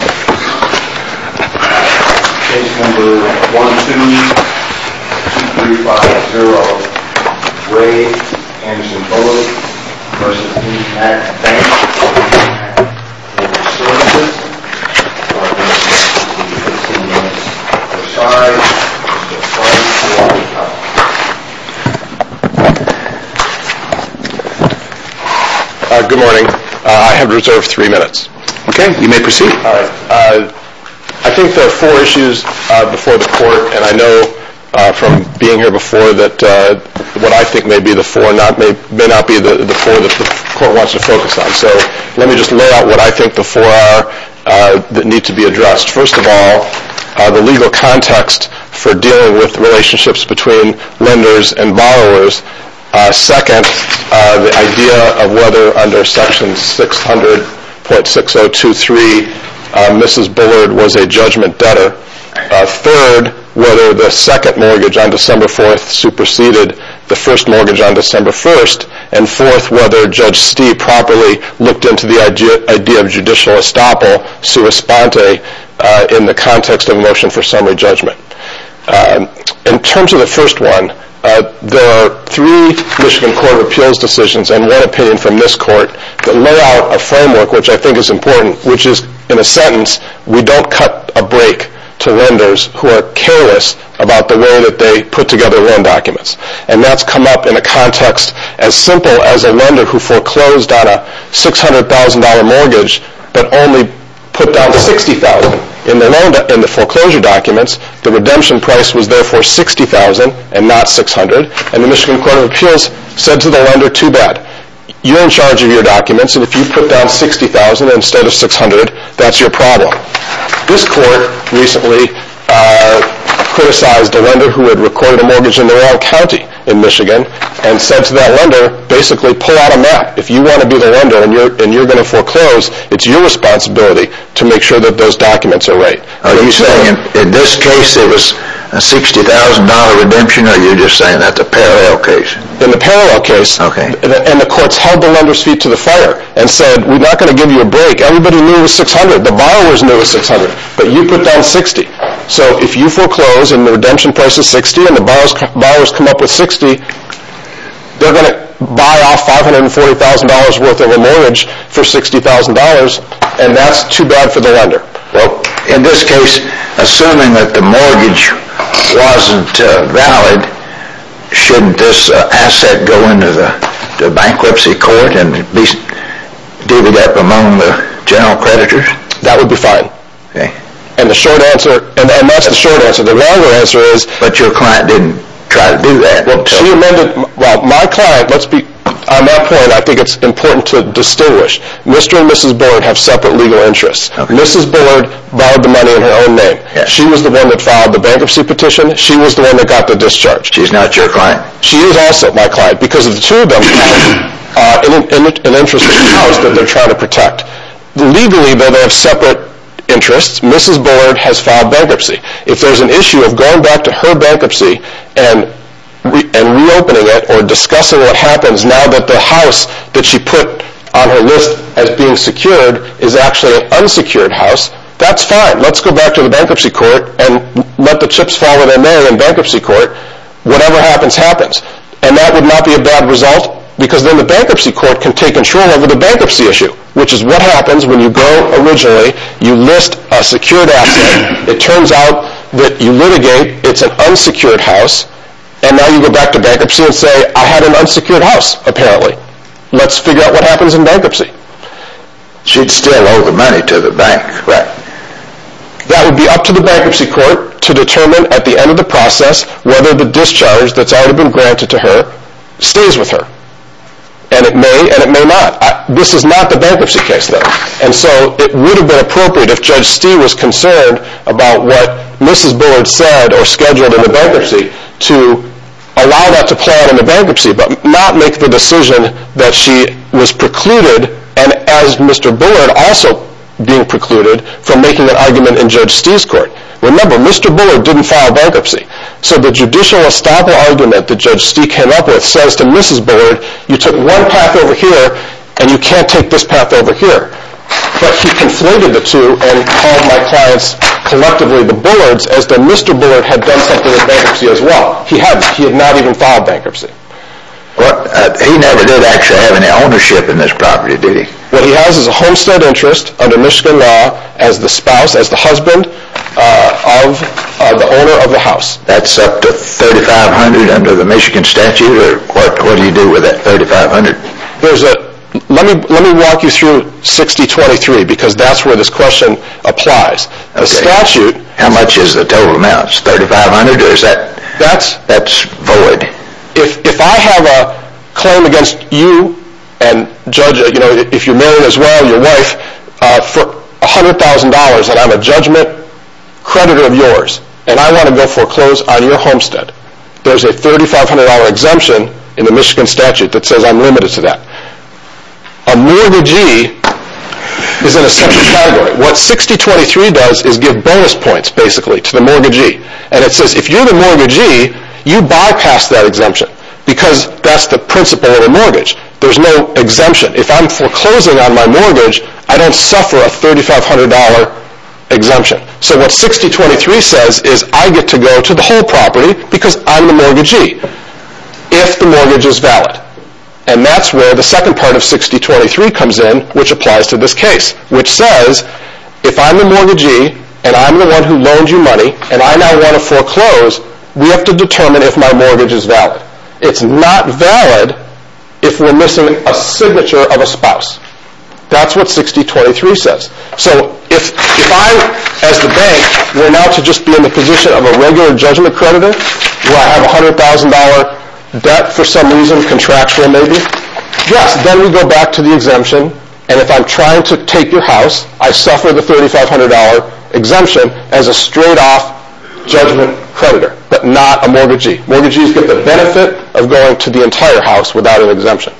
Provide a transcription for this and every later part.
Case number 1-2-2-3-5-0. Ray Anderson Bullock v. IndyMac Bank of America. Your services are going to be 15 minutes per side. Good morning. I have reserved three minutes. Okay, you may proceed. I think there are four issues before the court. And I know from being here before that what I think may be the four may not be the four that the court wants to focus on. So let me just lay out what I think the four are that need to be addressed. First of all, the legal context for dealing with relationships between lenders and borrowers. Second, the idea of whether under section 600.6023 Mrs. Bullard was a judgment debtor. Third, whether the second mortgage on December 4th superseded the first mortgage on December 1st. And fourth, whether Judge Stee properly looked into the idea of judicial estoppel sua sponte in the context of motion for summary judgment. In terms of the first one, there are three Michigan Court of Appeals decisions and one opinion from this court that lay out a framework which I think is important, which is in a sentence, we don't cut a break to lenders who are careless about the way that they put together loan documents. And that's come up in a context as simple as a lender who foreclosed on a $600,000 mortgage but only put down $60,000 in the foreclosure documents. The redemption price was therefore $60,000 and not $600,000. And the Michigan Court of Appeals said to the lender, too bad, you're in charge of your documents and if you put down $60,000 instead of $600,000, that's your problem. This court recently criticized a lender who had recorded a mortgage in the rural county in Michigan and said to that lender, basically pull out a map. If you want to be the lender and you're going to foreclose, it's your responsibility to make sure that those documents are right. Are you saying in this case it was a $60,000 redemption or are you just saying that's a parallel case? In the parallel case, and the courts held the lender's feet to the fire and said we're not going to give you a break. Everybody knew it was $600,000, the borrowers knew it was $600,000, but you put down $60,000. So if you foreclose and the redemption price is $60,000 and the borrowers come up with $60,000, they're going to buy off $540,000 worth of a mortgage for $60,000 and that's too bad for the lender. In this case, assuming that the mortgage wasn't valid, shouldn't this asset go into the bankruptcy court and be divvied up among the general creditors? That would be fine. And that's the short answer. The longer answer is... But your client didn't try to do that. On that point, I think it's important to distinguish. Mr. and Mrs. Bullard have separate legal interests. Mrs. Bullard borrowed the money in her own name. She was the one that filed the bankruptcy petition. She was the one that got the discharge. She's not your client. She is also my client because of the two of them having an interest in the house that they're trying to protect. Legally, though, they have separate interests. Mrs. Bullard has filed bankruptcy. If there's an issue of going back to her bankruptcy and reopening it or discussing what happens now that the house that she put on her list as being secured is actually an unsecured house, that's fine. Let's go back to the bankruptcy court and let the chips fall where they may in the bankruptcy court. Whatever happens, happens. And that would not be a bad result because then the bankruptcy court can take control over the bankruptcy issue, which is what happens when you go originally, you list a secured asset. It turns out that you litigate. It's an unsecured house. And now you go back to bankruptcy and say, I had an unsecured house, apparently. Let's figure out what happens in bankruptcy. She'd still owe the money to the bank. Right. That would be up to the bankruptcy court to determine at the end of the process whether the discharge that's already been granted to her stays with her. And it may and it may not. This is not the bankruptcy case, though. And so it would have been appropriate if Judge Stee was concerned about what Mrs. Bullard said or scheduled in the bankruptcy to allow that to play out in the bankruptcy, but not make the decision that she was precluded, and as Mr. Bullard also being precluded, from making an argument in Judge Stee's court. Remember, Mr. Bullard didn't file bankruptcy. So the judicial estoppel argument that Judge Stee came up with says to Mrs. Bullard, you took one path over here and you can't take this path over here. But he conflated the two and called my clients collectively the Bullards as though Mr. Bullard had done something in bankruptcy as well. He hadn't. He had not even filed bankruptcy. He never did actually have any ownership in this property, did he? What he has is a homestead interest under Michigan law as the spouse, as the husband of the owner of the house. That's up to $3,500 under the Michigan statute? What do you do with that $3,500? Let me walk you through 6023 because that's where this question applies. How much is the total amount? Is it $3,500 or is that void? If I have a claim against you and Judge, if you're married as well, your wife, for $100,000 and I'm a judgment creditor of yours and I want to foreclose on your homestead, there's a $3,500 exemption in the Michigan statute that says I'm limited to that. A mortgagee is in a separate category. What 6023 does is give bonus points basically to the mortgagee. And it says if you're the mortgagee, you bypass that exemption because that's the principle of a mortgage. There's no exemption. If I'm foreclosing on my mortgage, I don't suffer a $3,500 exemption. So what 6023 says is I get to go to the whole property because I'm the mortgagee if the mortgage is valid. And that's where the second part of 6023 comes in, which applies to this case, which says if I'm the mortgagee and I'm the one who loaned you money and I now want to foreclose, we have to determine if my mortgage is valid. It's not valid if we're missing a signature of a spouse. That's what 6023 says. So if I, as the bank, were now to just be in the position of a regular judgment creditor where I have $100,000 debt for some reason, contractual maybe, yes, then we go back to the exemption and if I'm trying to take your house, I suffer the $3,500 exemption as a straight-off judgment creditor but not a mortgagee. Mortgagees get the benefit of going to the entire house without an exemption.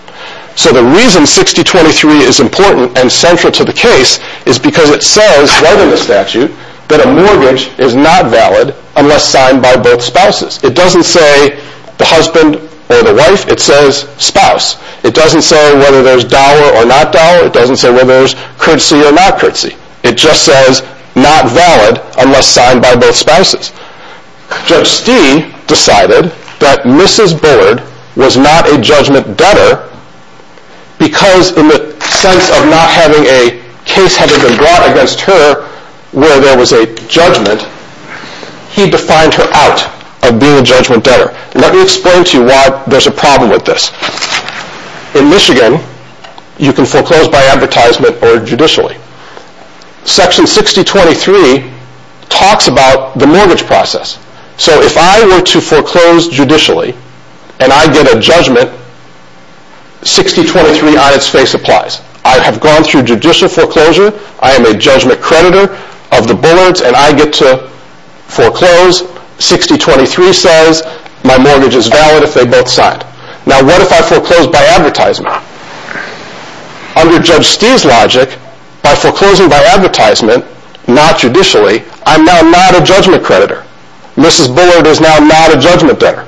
So the reason 6023 is important and central to the case is because it says right in the statute that a mortgage is not valid unless signed by both spouses. It doesn't say the husband or the wife. It says spouse. It doesn't say whether there's dollar or not dollar. It doesn't say whether there's courtesy or not courtesy. It just says not valid unless signed by both spouses. Judge Stee decided that Mrs. Bullard was not a judgment debtor because in the sense of not having a case having been brought against her where there was a judgment, he defined her out of being a judgment debtor. Let me explain to you why there's a problem with this. In Michigan, you can foreclose by advertisement or judicially. Section 6023 talks about the mortgage process. So if I were to foreclose judicially and I get a judgment, 6023 on its face applies. I have gone through judicial foreclosure. I am a judgment creditor of the Bullards and I get to foreclose. 6023 says my mortgage is valid if they both signed. Now what if I foreclose by advertisement? Under Judge Stee's logic, by foreclosing by advertisement, not judicially, I am now not a judgment creditor. Mrs. Bullard is now not a judgment debtor,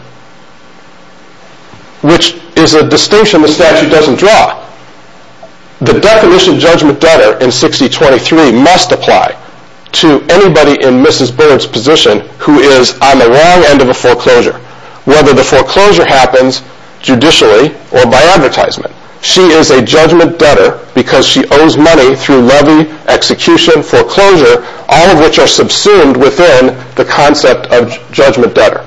which is a distinction the statute doesn't draw. The definition of judgment debtor in 6023 must apply to anybody in Mrs. Bullard's position who is on the wrong end of a foreclosure, whether the foreclosure happens judicially or by advertisement. She is a judgment debtor because she owes money through levy, execution, foreclosure, all of which are subsumed within the concept of judgment debtor.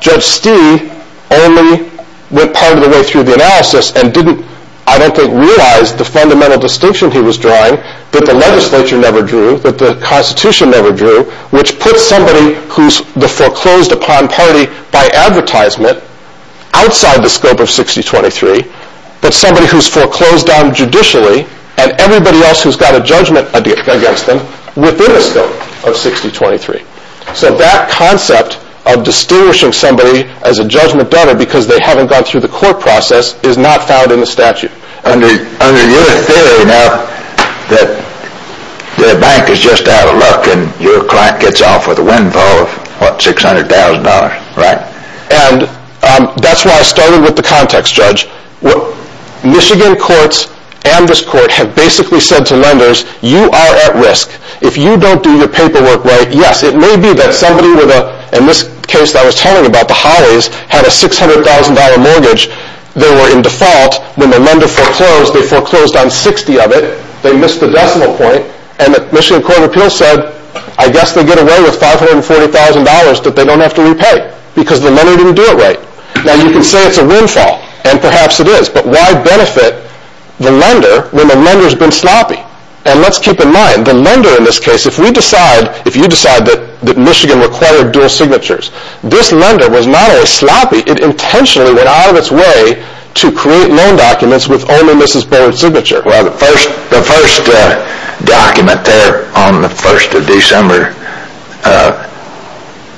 Judge Stee only went part of the way through the analysis and didn't, I don't think, realize the fundamental distinction he was drawing that the legislature never drew, that the Constitution never drew, which puts somebody who's the foreclosed upon party by advertisement outside the scope of 6023, but somebody who's foreclosed on judicially and everybody else who's got a judgment against them within the scope of 6023. So that concept of distinguishing somebody as a judgment debtor because they haven't gone through the court process is not found in the statute. Under your theory, now, that the bank is just out of luck and your client gets off with a windfall of, what, $600,000, right? And that's why I started with the context, Judge. Michigan courts and this court have basically said to lenders, you are at risk. If you don't do your paperwork right, yes, it may be that somebody with a, in this case that I was telling about, the Hollies, had a $600,000 mortgage. They were in default when the lender foreclosed. They foreclosed on 60 of it. They missed the decimal point, and the Michigan Court of Appeals said, I guess they get away with $540,000 that they don't have to repay because the lender didn't do it right. Now, you can say it's a windfall, and perhaps it is, but why benefit the lender when the lender's been sloppy? And let's keep in mind, the lender in this case, if we decide, if you decide that Michigan required dual signatures, this lender was not only sloppy, it intentionally went out of its way to create loan documents with only Mrs. Bowen's signature. Well, the first document there on the 1st of December,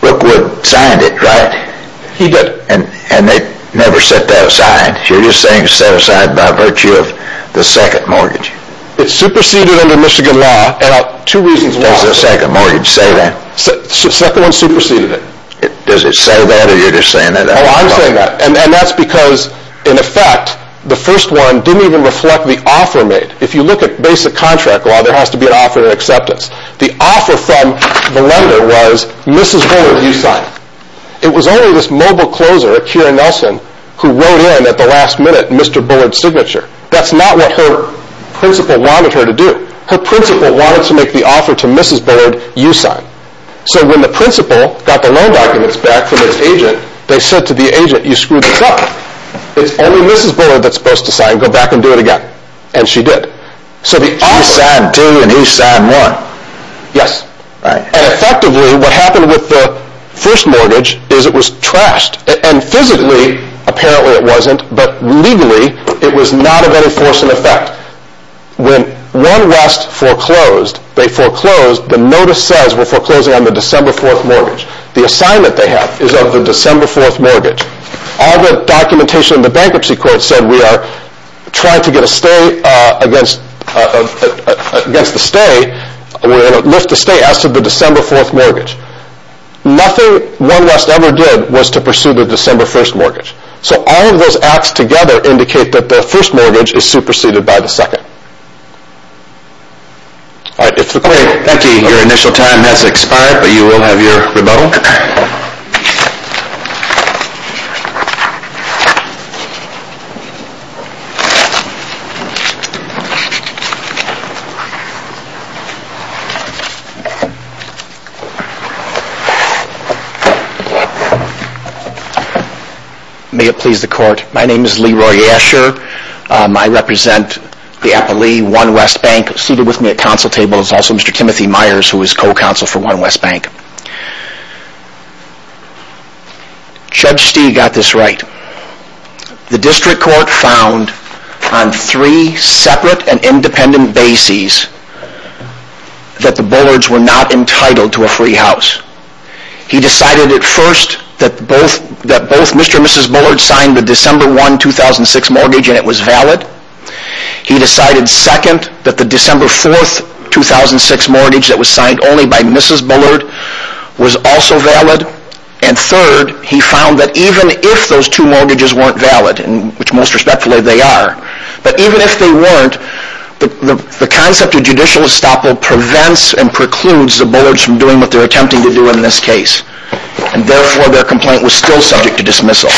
Brookwood signed it, right? He did. And they never set that aside. You're just saying set aside by virtue of the second mortgage. It superseded under Michigan law, and two reasons why. Does the second mortgage say that? The second one superseded it. Does it say that, or are you just saying that? Oh, I'm saying that, and that's because, in effect, the first one didn't even reflect the offer made. If you look at basic contract law, there has to be an offer and acceptance. The offer from the lender was, Mrs. Bullard, you sign. It was only this mobile closer, Akira Nelson, who wrote in at the last minute, Mr. Bullard's signature. That's not what her principal wanted her to do. Her principal wanted to make the offer to Mrs. Bullard, you sign. So when the principal got the loan documents back from its agent, they said to the agent, you screwed this up. It's only Mrs. Bullard that's supposed to sign. Go back and do it again. And she did. She signed D, and he signed 1. Yes. And effectively, what happened with the first mortgage is it was trashed. And physically, apparently it wasn't, but legally, it was not of any force and effect. In fact, when One West foreclosed, they foreclosed, the notice says we're foreclosing on the December 4th mortgage. The assignment they have is of the December 4th mortgage. All the documentation in the bankruptcy court said we are trying to get a stay against the stay, lift the stay as to the December 4th mortgage. Nothing One West ever did was to pursue the December 1st mortgage. So all of those acts together indicate that the first mortgage is superseded by the second. Thank you. Your initial time has expired, but you will have your rebuttal. My name is Leroy Asher. I represent the appellee, One West Bank. Seated with me at council table is also Mr. Timothy Myers, who is co-counsel for One West Bank. Judge Stee got this right. The district court found on three separate and independent bases that the Bullards were not entitled to a free house. He decided at first that both Mr. and Mrs. Bullard signed the December 1, 2006 mortgage and it was valid. He decided second that the December 4, 2006 mortgage that was signed only by Mrs. Bullard was also valid. And third, he found that even if those two mortgages weren't valid, which most respectfully they are, but even if they weren't, the concept of judicial estoppel prevents and precludes the Bullards from doing what they're attempting to do in this case. And therefore, their complaint was still subject to dismissal.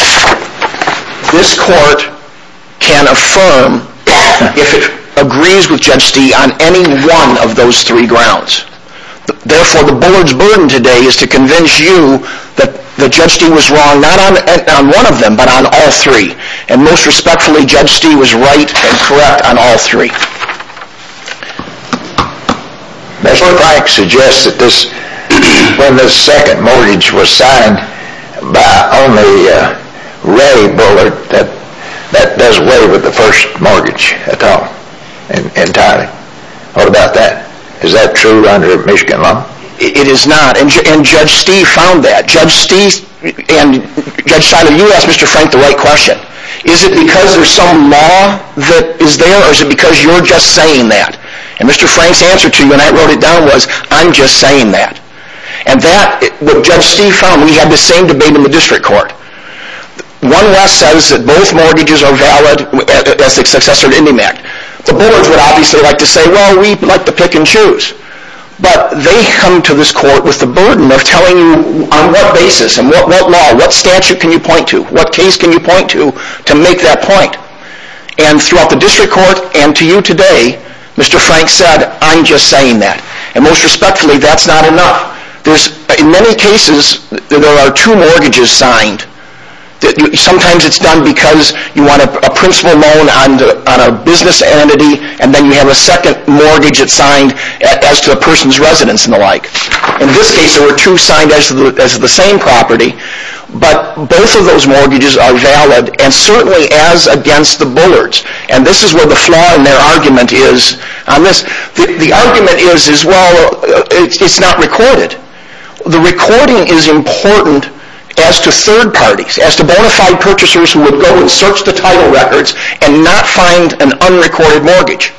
This court can affirm if it agrees with Judge Stee on any one of those three grounds. Therefore, the Bullard's burden today is to convince you that Judge Stee was wrong, not on one of them, but on all three. And most respectfully, Judge Stee was right and correct on all three. Mr. Frank suggests that when this second mortgage was signed by only Ray Bullard, that that does away with the first mortgage at all, entirely. What about that? Is that true under Michigan law? It is not, and Judge Stee found that. Judge Stee and Judge Seiler, you asked Mr. Frank the right question. Is it because there's some law that is there, or is it because you're just saying that? And Mr. Frank's answer to you when I wrote it down was, I'm just saying that. And that, what Judge Stee found, we had the same debate in the district court. One less says that both mortgages are valid as the successor to IndyMac. The Bullards would obviously like to say, well, we'd like to pick and choose. But they come to this court with the burden of telling you on what basis and what law, what statute can you point to, what case can you point to, to make that point. And throughout the district court and to you today, Mr. Frank said, I'm just saying that. And most respectfully, that's not enough. In many cases, there are two mortgages signed. Sometimes it's done because you want a principal loan on a business entity, and then you have a second mortgage that's signed as to a person's residence and the like. In this case, there were two signed as the same property. But both of those mortgages are valid, and certainly as against the Bullards. And this is where the flaw in their argument is. The argument is, well, it's not recorded. The recording is important as to third parties, as to bona fide purchasers who would go and search the title records and not find an unrecorded mortgage.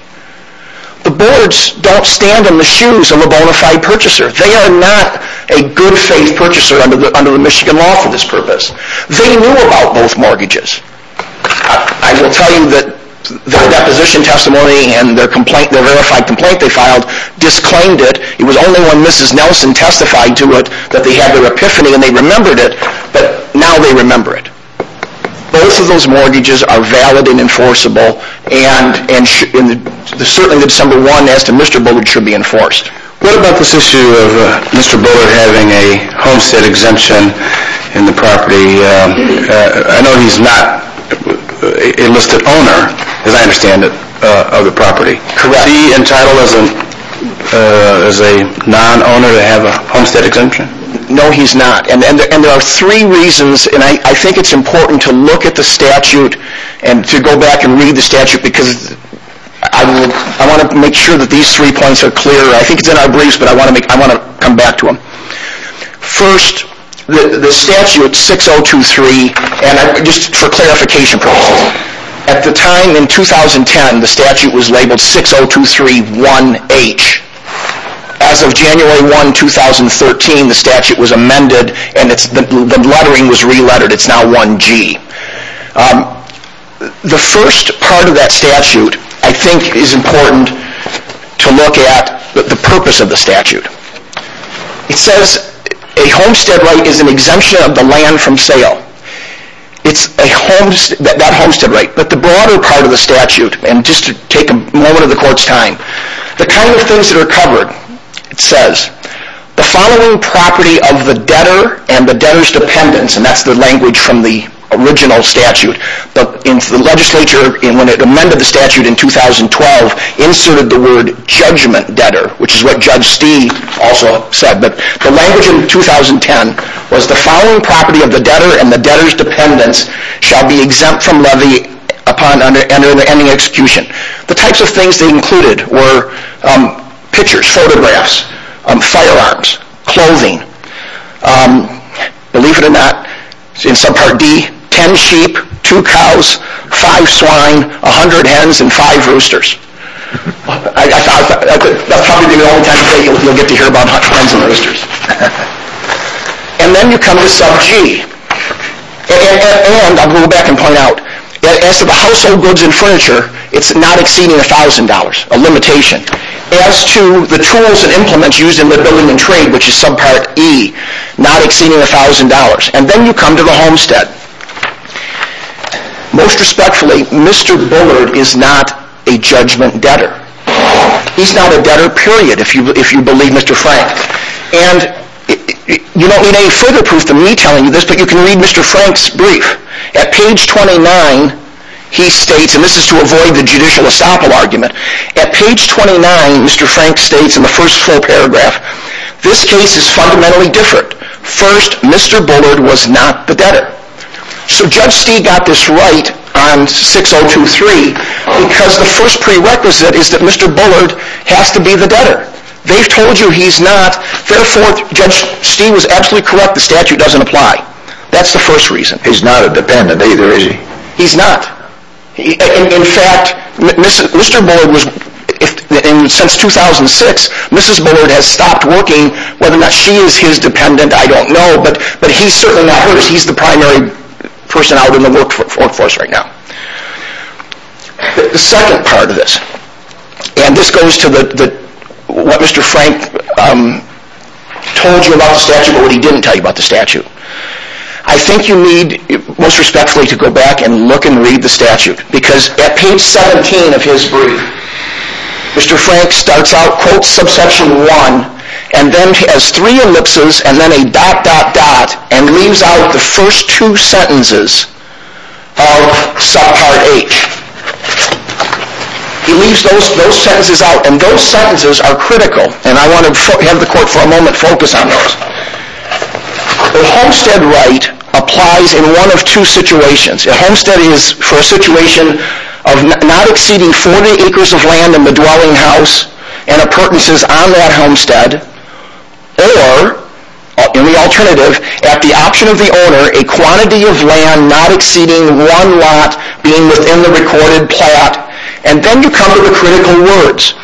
The Bullards don't stand in the shoes of a bona fide purchaser. They are not a good faith purchaser under the Michigan law for this purpose. They knew about both mortgages. I will tell you that their deposition testimony and the verified complaint they filed disclaimed it. It was only when Mrs. Nelson testified to it that they had their epiphany, and they remembered it. But now they remember it. Both of those mortgages are valid and enforceable, and certainly the December 1 as to Mr. Bullard should be enforced. What about this issue of Mr. Bullard having a homestead exemption in the property? I know he's not a listed owner, as I understand it, of the property. Correct. Is he entitled as a non-owner to have a homestead exemption? No, he's not. There are three reasons, and I think it's important to look at the statute and to go back and read the statute because I want to make sure that these three points are clear. I think it's in our briefs, but I want to come back to them. First, the statute 6023, and just for clarification purposes, at the time in 2010 the statute was labeled 60231H. As of January 1, 2013, the statute was amended and the lettering was re-lettered. It's now 1G. The first part of that statute I think is important to look at the purpose of the statute. It says a homestead right is an exemption of the land from sale. It's that homestead right. But the broader part of the statute, and just to take a moment of the Court's time, the kind of things that are covered, it says, the following property of the debtor and the debtor's dependents, and that's the language from the original statute. But the legislature, when it amended the statute in 2012, inserted the word judgment debtor, which is what Judge Stee also said. But the language in 2010 was the following property of the debtor and the debtor's dependents shall be exempt from levy upon any execution. The types of things they included were pictures, photographs, firearms, clothing. Believe it or not, in subpart D, 10 sheep, 2 cows, 5 swine, 100 hens, and 5 roosters. That'll probably be the only time you'll get to hear about hens and roosters. And then you come to sub G. And I'll go back and point out, as to the household goods and furniture, it's not exceeding $1,000, a limitation. As to the tools and implements used in the building and trade, which is subpart E, not exceeding $1,000. And then you come to the homestead. Most respectfully, Mr. Bullard is not a judgment debtor. He's not a debtor, period, if you believe Mr. Frank. And you don't need any further proof than me telling you this, but you can read Mr. Frank's brief. At page 29, he states, and this is to avoid the judicial estoppel argument, at page 29, Mr. Frank states in the first full paragraph, this case is fundamentally different. First, Mr. Bullard was not the debtor. So Judge Stee got this right on 6023, because the first prerequisite is that Mr. Bullard has to be the debtor. They've told you he's not. Therefore, Judge Stee was absolutely correct. The statute doesn't apply. That's the first reason. He's not a dependent either, is he? He's not. In fact, Mr. Bullard was, since 2006, Mrs. Bullard has stopped working. Whether or not she is his dependent, I don't know, but he's certainly not hers. He's the primary person out in the workforce right now. The second part of this, and this goes to what Mr. Frank told you about the statute or what he didn't tell you about the statute. I think you need, most respectfully, to go back and look and read the statute, because at page 17 of his brief, Mr. Frank starts out, quote, subsection 1, and then has three ellipses and then a dot, dot, dot, and leaves out the first two sentences of subpart H. He leaves those sentences out, and those sentences are critical, and I want to have the court, for a moment, focus on those. A homestead right applies in one of two situations. A homestead is for a situation of not exceeding 40 acres of land in the dwelling house and appurtenances on that homestead, or, in the alternative, at the option of the owner, a quantity of land not exceeding one lot being within the recorded plot, and then you come to the critical words.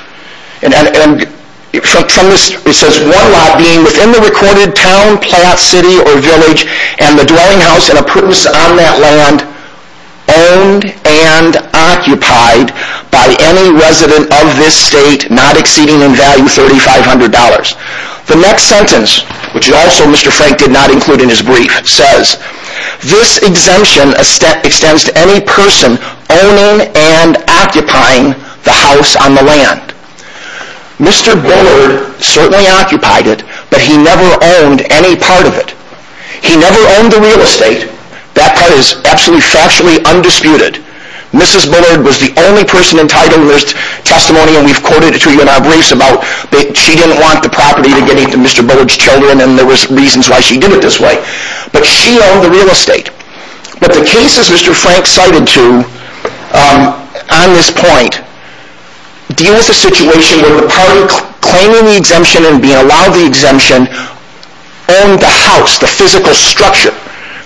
It says one lot being within the recorded town, plot, city, or village and the dwelling house and appurtenance on that land owned and occupied by any resident of this state not exceeding in value $3,500. The next sentence, which also Mr. Frank did not include in his brief, says, this exemption extends to any person owning and occupying the house on the land. Mr. Bullard certainly occupied it, but he never owned any part of it. He never owned the real estate. That part is absolutely factually undisputed. Mrs. Bullard was the only person entitled to this testimony, and we've quoted it to you in our briefs about that she didn't want the property to get into Mr. Bullard's children, and there was reasons why she did it this way. But she owned the real estate. But the cases Mr. Frank cited to on this point deal with the situation where the party claiming the exemption and being allowed the exemption owned the house, the physical structure.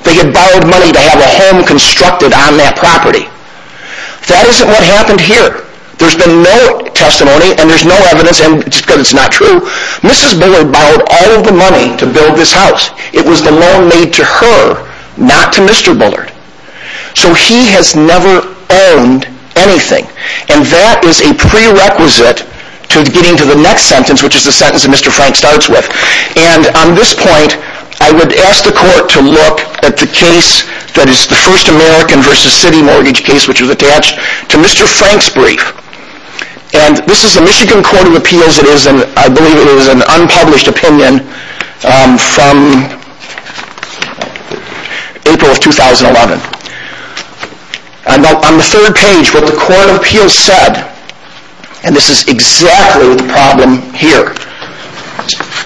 They had borrowed money to have a home constructed on that property. That isn't what happened here. There's been no testimony, and there's no evidence, and just because it's not true, Mrs. Bullard borrowed all the money to build this house. It was the loan made to her, not to Mr. Bullard. So he has never owned anything, and that is a prerequisite to getting to the next sentence, which is the sentence that Mr. Frank starts with. And on this point, I would ask the court to look at the case that is the first American v. City mortgage case, which was attached to Mr. Frank's brief. And this is the Michigan Court of Appeals. As it is, I believe it is an unpublished opinion from April of 2011. On the third page, what the Court of Appeals said, and this is exactly the problem here,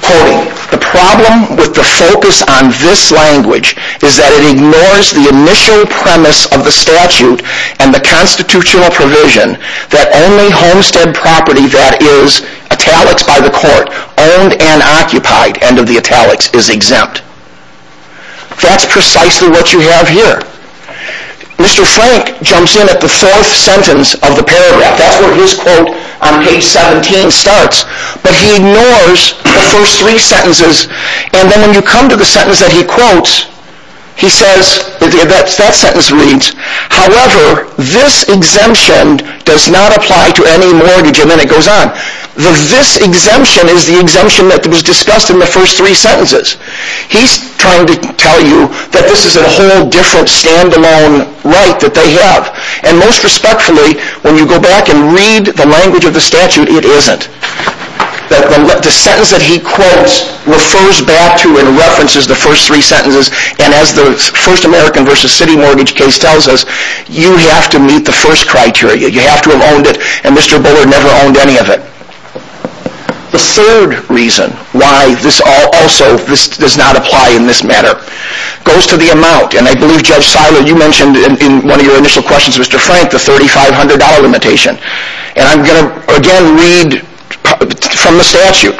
quoting, The problem with the focus on this language is that it ignores the initial premise of the statute and the constitutional provision that only homestead property that is, italics by the court, owned and occupied, end of the italics, is exempt. That's precisely what you have here. Mr. Frank jumps in at the fourth sentence of the paragraph. That's where his quote on page 17 starts, but he ignores the first three sentences, and then when you come to the sentence that he quotes, he says, that sentence reads, However, this exemption does not apply to any mortgage, and then it goes on. The this exemption is the exemption that was discussed in the first three sentences. He's trying to tell you that this is a whole different stand-alone right that they have, and most respectfully, when you go back and read the language of the statute, it isn't. The sentence that he quotes refers back to and references the first three sentences, and as the First American v. City Mortgage case tells us, you have to meet the first criteria. You have to have owned it, and Mr. Bullard never owned any of it. The third reason why this also does not apply in this matter goes to the amount, and I believe, Judge Seiler, you mentioned in one of your initial questions, Mr. Frank, the $3,500 limitation, and I'm going to again read from the statute.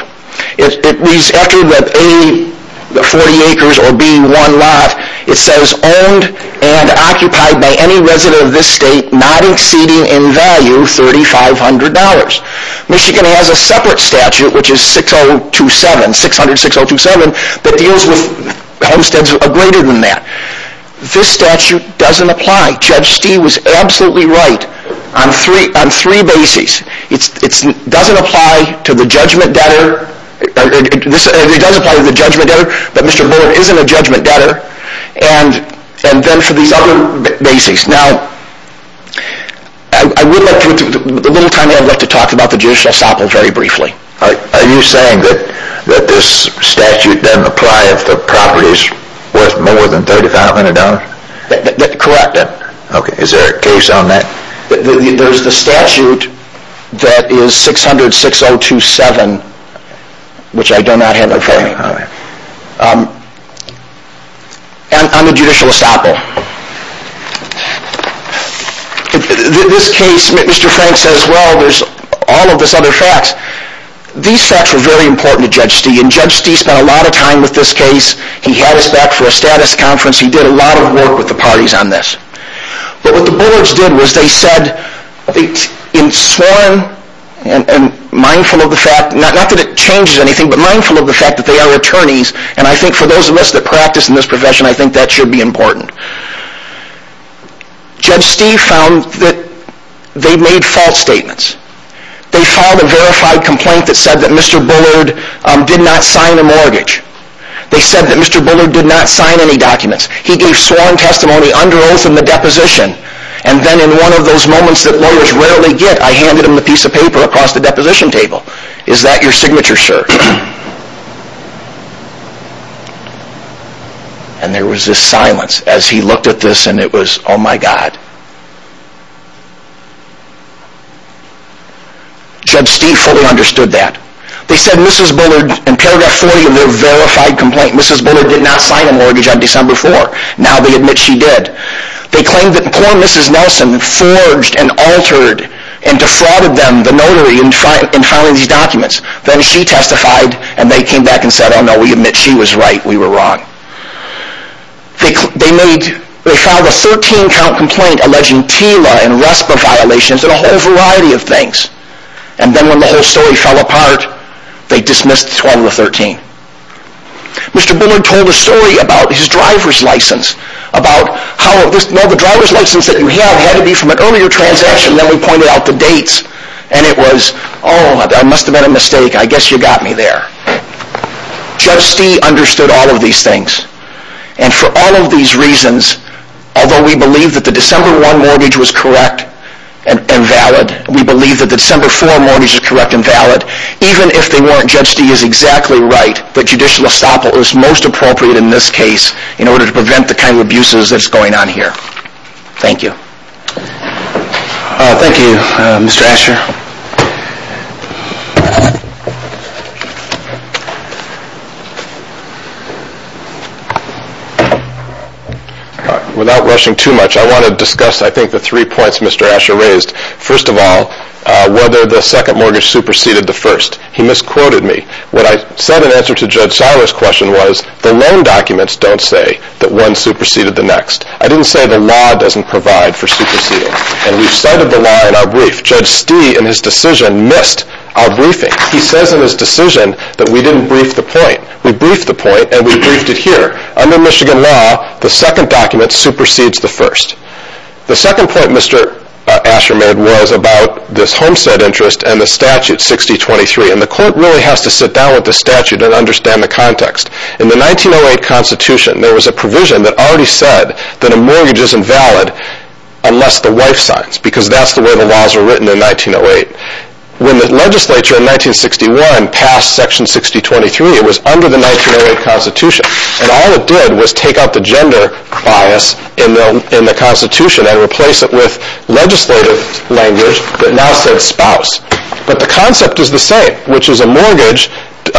It reads, after the A, 40 acres, or B, 1 lot, it says, Owned and occupied by any resident of this state not exceeding in value $3,500. Michigan has a separate statute, which is 6027, 600-6027, that deals with homesteads greater than that. This statute doesn't apply. Judge Stee was absolutely right on three bases. It doesn't apply to the judgment debtor. It does apply to the judgment debtor, but Mr. Bullard isn't a judgment debtor, and then for these other bases. Now, I would like to, with a little time here, I'd like to talk about the judicial samples very briefly. Are you saying that this statute doesn't apply if the property is worth more than $3,500? Correct. Okay, is there a case on that? There's the statute that is 600-6027, which I do not have it for you, on the judicial estoppel. This case, Mr. Frank says, well, there's all of this other facts. These facts were very important to Judge Stee, and Judge Stee spent a lot of time with this case. He had us back for a status conference. He did a lot of work with the parties on this. But what the Bullards did was they said, in sworn and mindful of the fact, not that it changes anything, but mindful of the fact that they are attorneys, and I think for those of us that practice in this profession, I think that should be important. Judge Stee found that they made false statements. They filed a verified complaint that said that Mr. Bullard did not sign a mortgage. They said that Mr. Bullard did not sign any documents. He gave sworn testimony under oath in the deposition, and then in one of those moments that lawyers rarely get, I handed him a piece of paper across the deposition table. Is that your signature, sir? And there was this silence as he looked at this, and it was, oh my God. Judge Stee fully understood that. They said Mrs. Bullard, in paragraph 40 of their verified complaint, Mrs. Bullard did not sign a mortgage on December 4. Now they admit she did. They claimed that poor Mrs. Nelson forged and altered and defrauded them, the notary, in filing these documents. Then she testified, and they came back and said, oh no, we admit she was right. We were wrong. They made, they filed a 13-count complaint alleging TILA and RESPA violations and a whole variety of things. And then when the whole story fell apart, they dismissed the 12 of the 13. Mr. Bullard told a story about his driver's license, about how the driver's license that you have had to be from an earlier transaction. Then we pointed out the dates, and it was, oh, I must have made a mistake. I guess you got me there. Judge Stee understood all of these things. And for all of these reasons, although we believe that the December 1 mortgage was correct and valid, we believe that the December 4 mortgage is correct and valid, even if they weren't, Judge Stee is exactly right that judicial estoppel is most appropriate in this case in order to prevent the kind of abuses that's going on here. Thank you. Thank you, Mr. Asher. Without rushing too much, I want to discuss, I think, the three points Mr. Asher raised. First of all, whether the second mortgage superseded the first. He misquoted me. What I said in answer to Judge Seiler's question was the loan documents don't say that one superseded the next. I didn't say the law doesn't provide for superseding. And we've cited the law in our brief. Judge Stee, in his decision, missed our briefing. He says in his decision that we didn't brief the point. We briefed the point, and we briefed it here. Under Michigan law, the second document supersedes the first. The second point Mr. Asher made was about this homestead interest and the statute 6023. And the court really has to sit down with the statute and understand the context. In the 1908 Constitution, there was a provision that already said that a mortgage isn't valid unless the wife signs, because that's the way the laws were written in 1908. When the legislature in 1961 passed section 6023, it was under the 1908 Constitution. And all it did was take out the gender bias in the Constitution and replace it with legislative language that now said spouse. But the concept is the same, which is a mortgage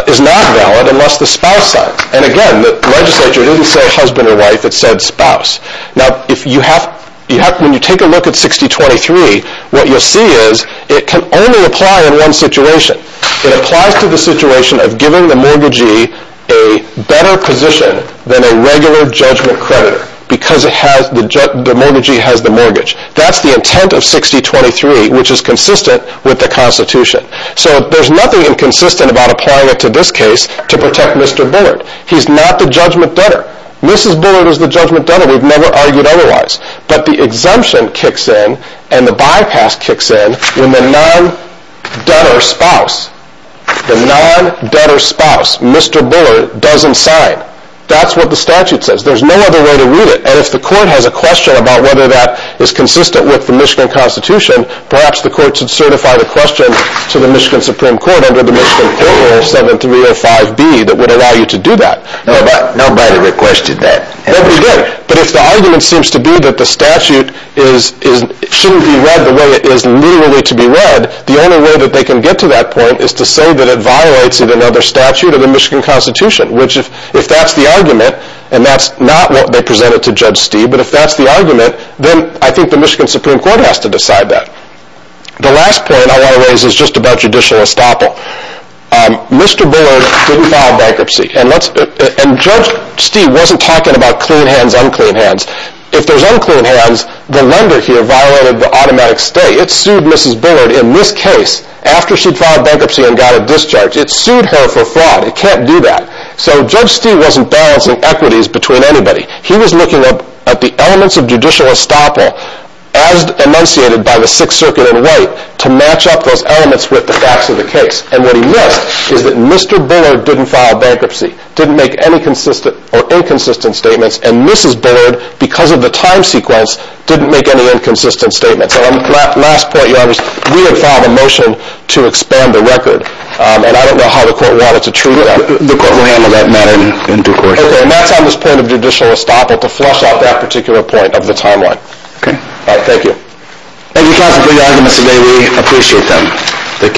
is not valid unless the spouse signs. And again, the legislature didn't say husband or wife. It said spouse. Now, when you take a look at 6023, what you'll see is it can only apply in one situation. It applies to the situation of giving the mortgagee a better position than a regular judgment creditor because the mortgagee has the mortgage. That's the intent of 6023, which is consistent with the Constitution. So there's nothing inconsistent about applying it to this case to protect Mr. Bullard. He's not the judgment debtor. Mrs. Bullard is the judgment debtor. We've never argued otherwise. But the exemption kicks in, and the bypass kicks in, when the non-debtor spouse, the non-debtor spouse, Mr. Bullard, doesn't sign. That's what the statute says. There's no other way to read it. And if the court has a question about whether that is consistent with the Michigan Constitution, perhaps the court should certify the question to the Michigan Supreme Court under the Michigan Court Rule 7305B that would allow you to do that. Nobody requested that. Nobody did. But if the argument seems to be that the statute shouldn't be read the way it is legally to be read, the only way that they can get to that point is to say that it violates another statute of the Michigan Constitution, which, if that's the argument, and that's not what they presented to Judge Steeve, but if that's the argument, then I think the Michigan Supreme Court has to decide that. The last point I want to raise is just about judicial estoppel. Mr. Bullard didn't file bankruptcy. And Judge Steeve wasn't talking about clean hands, unclean hands. If there's unclean hands, the lender here violated the automatic stay. It sued Mrs. Bullard in this case after she'd filed bankruptcy and got a discharge. It sued her for fraud. It can't do that. So Judge Steeve wasn't balancing equities between anybody. He was looking at the elements of judicial estoppel as enunciated by the Sixth Circuit in white to match up those elements with the facts of the case. And what he missed is that Mr. Bullard didn't file bankruptcy, didn't make any consistent or inconsistent statements, and Mrs. Bullard, because of the time sequence, didn't make any inconsistent statements. And on that last point, we had filed a motion to expand the record, and I don't know how the court wanted to treat that. The court will handle that matter in due course. Okay, and that's on this point of judicial estoppel, to flush out that particular point of the timeline. Okay. All right, thank you. Thank you, counsel, for your arguments today. We appreciate them.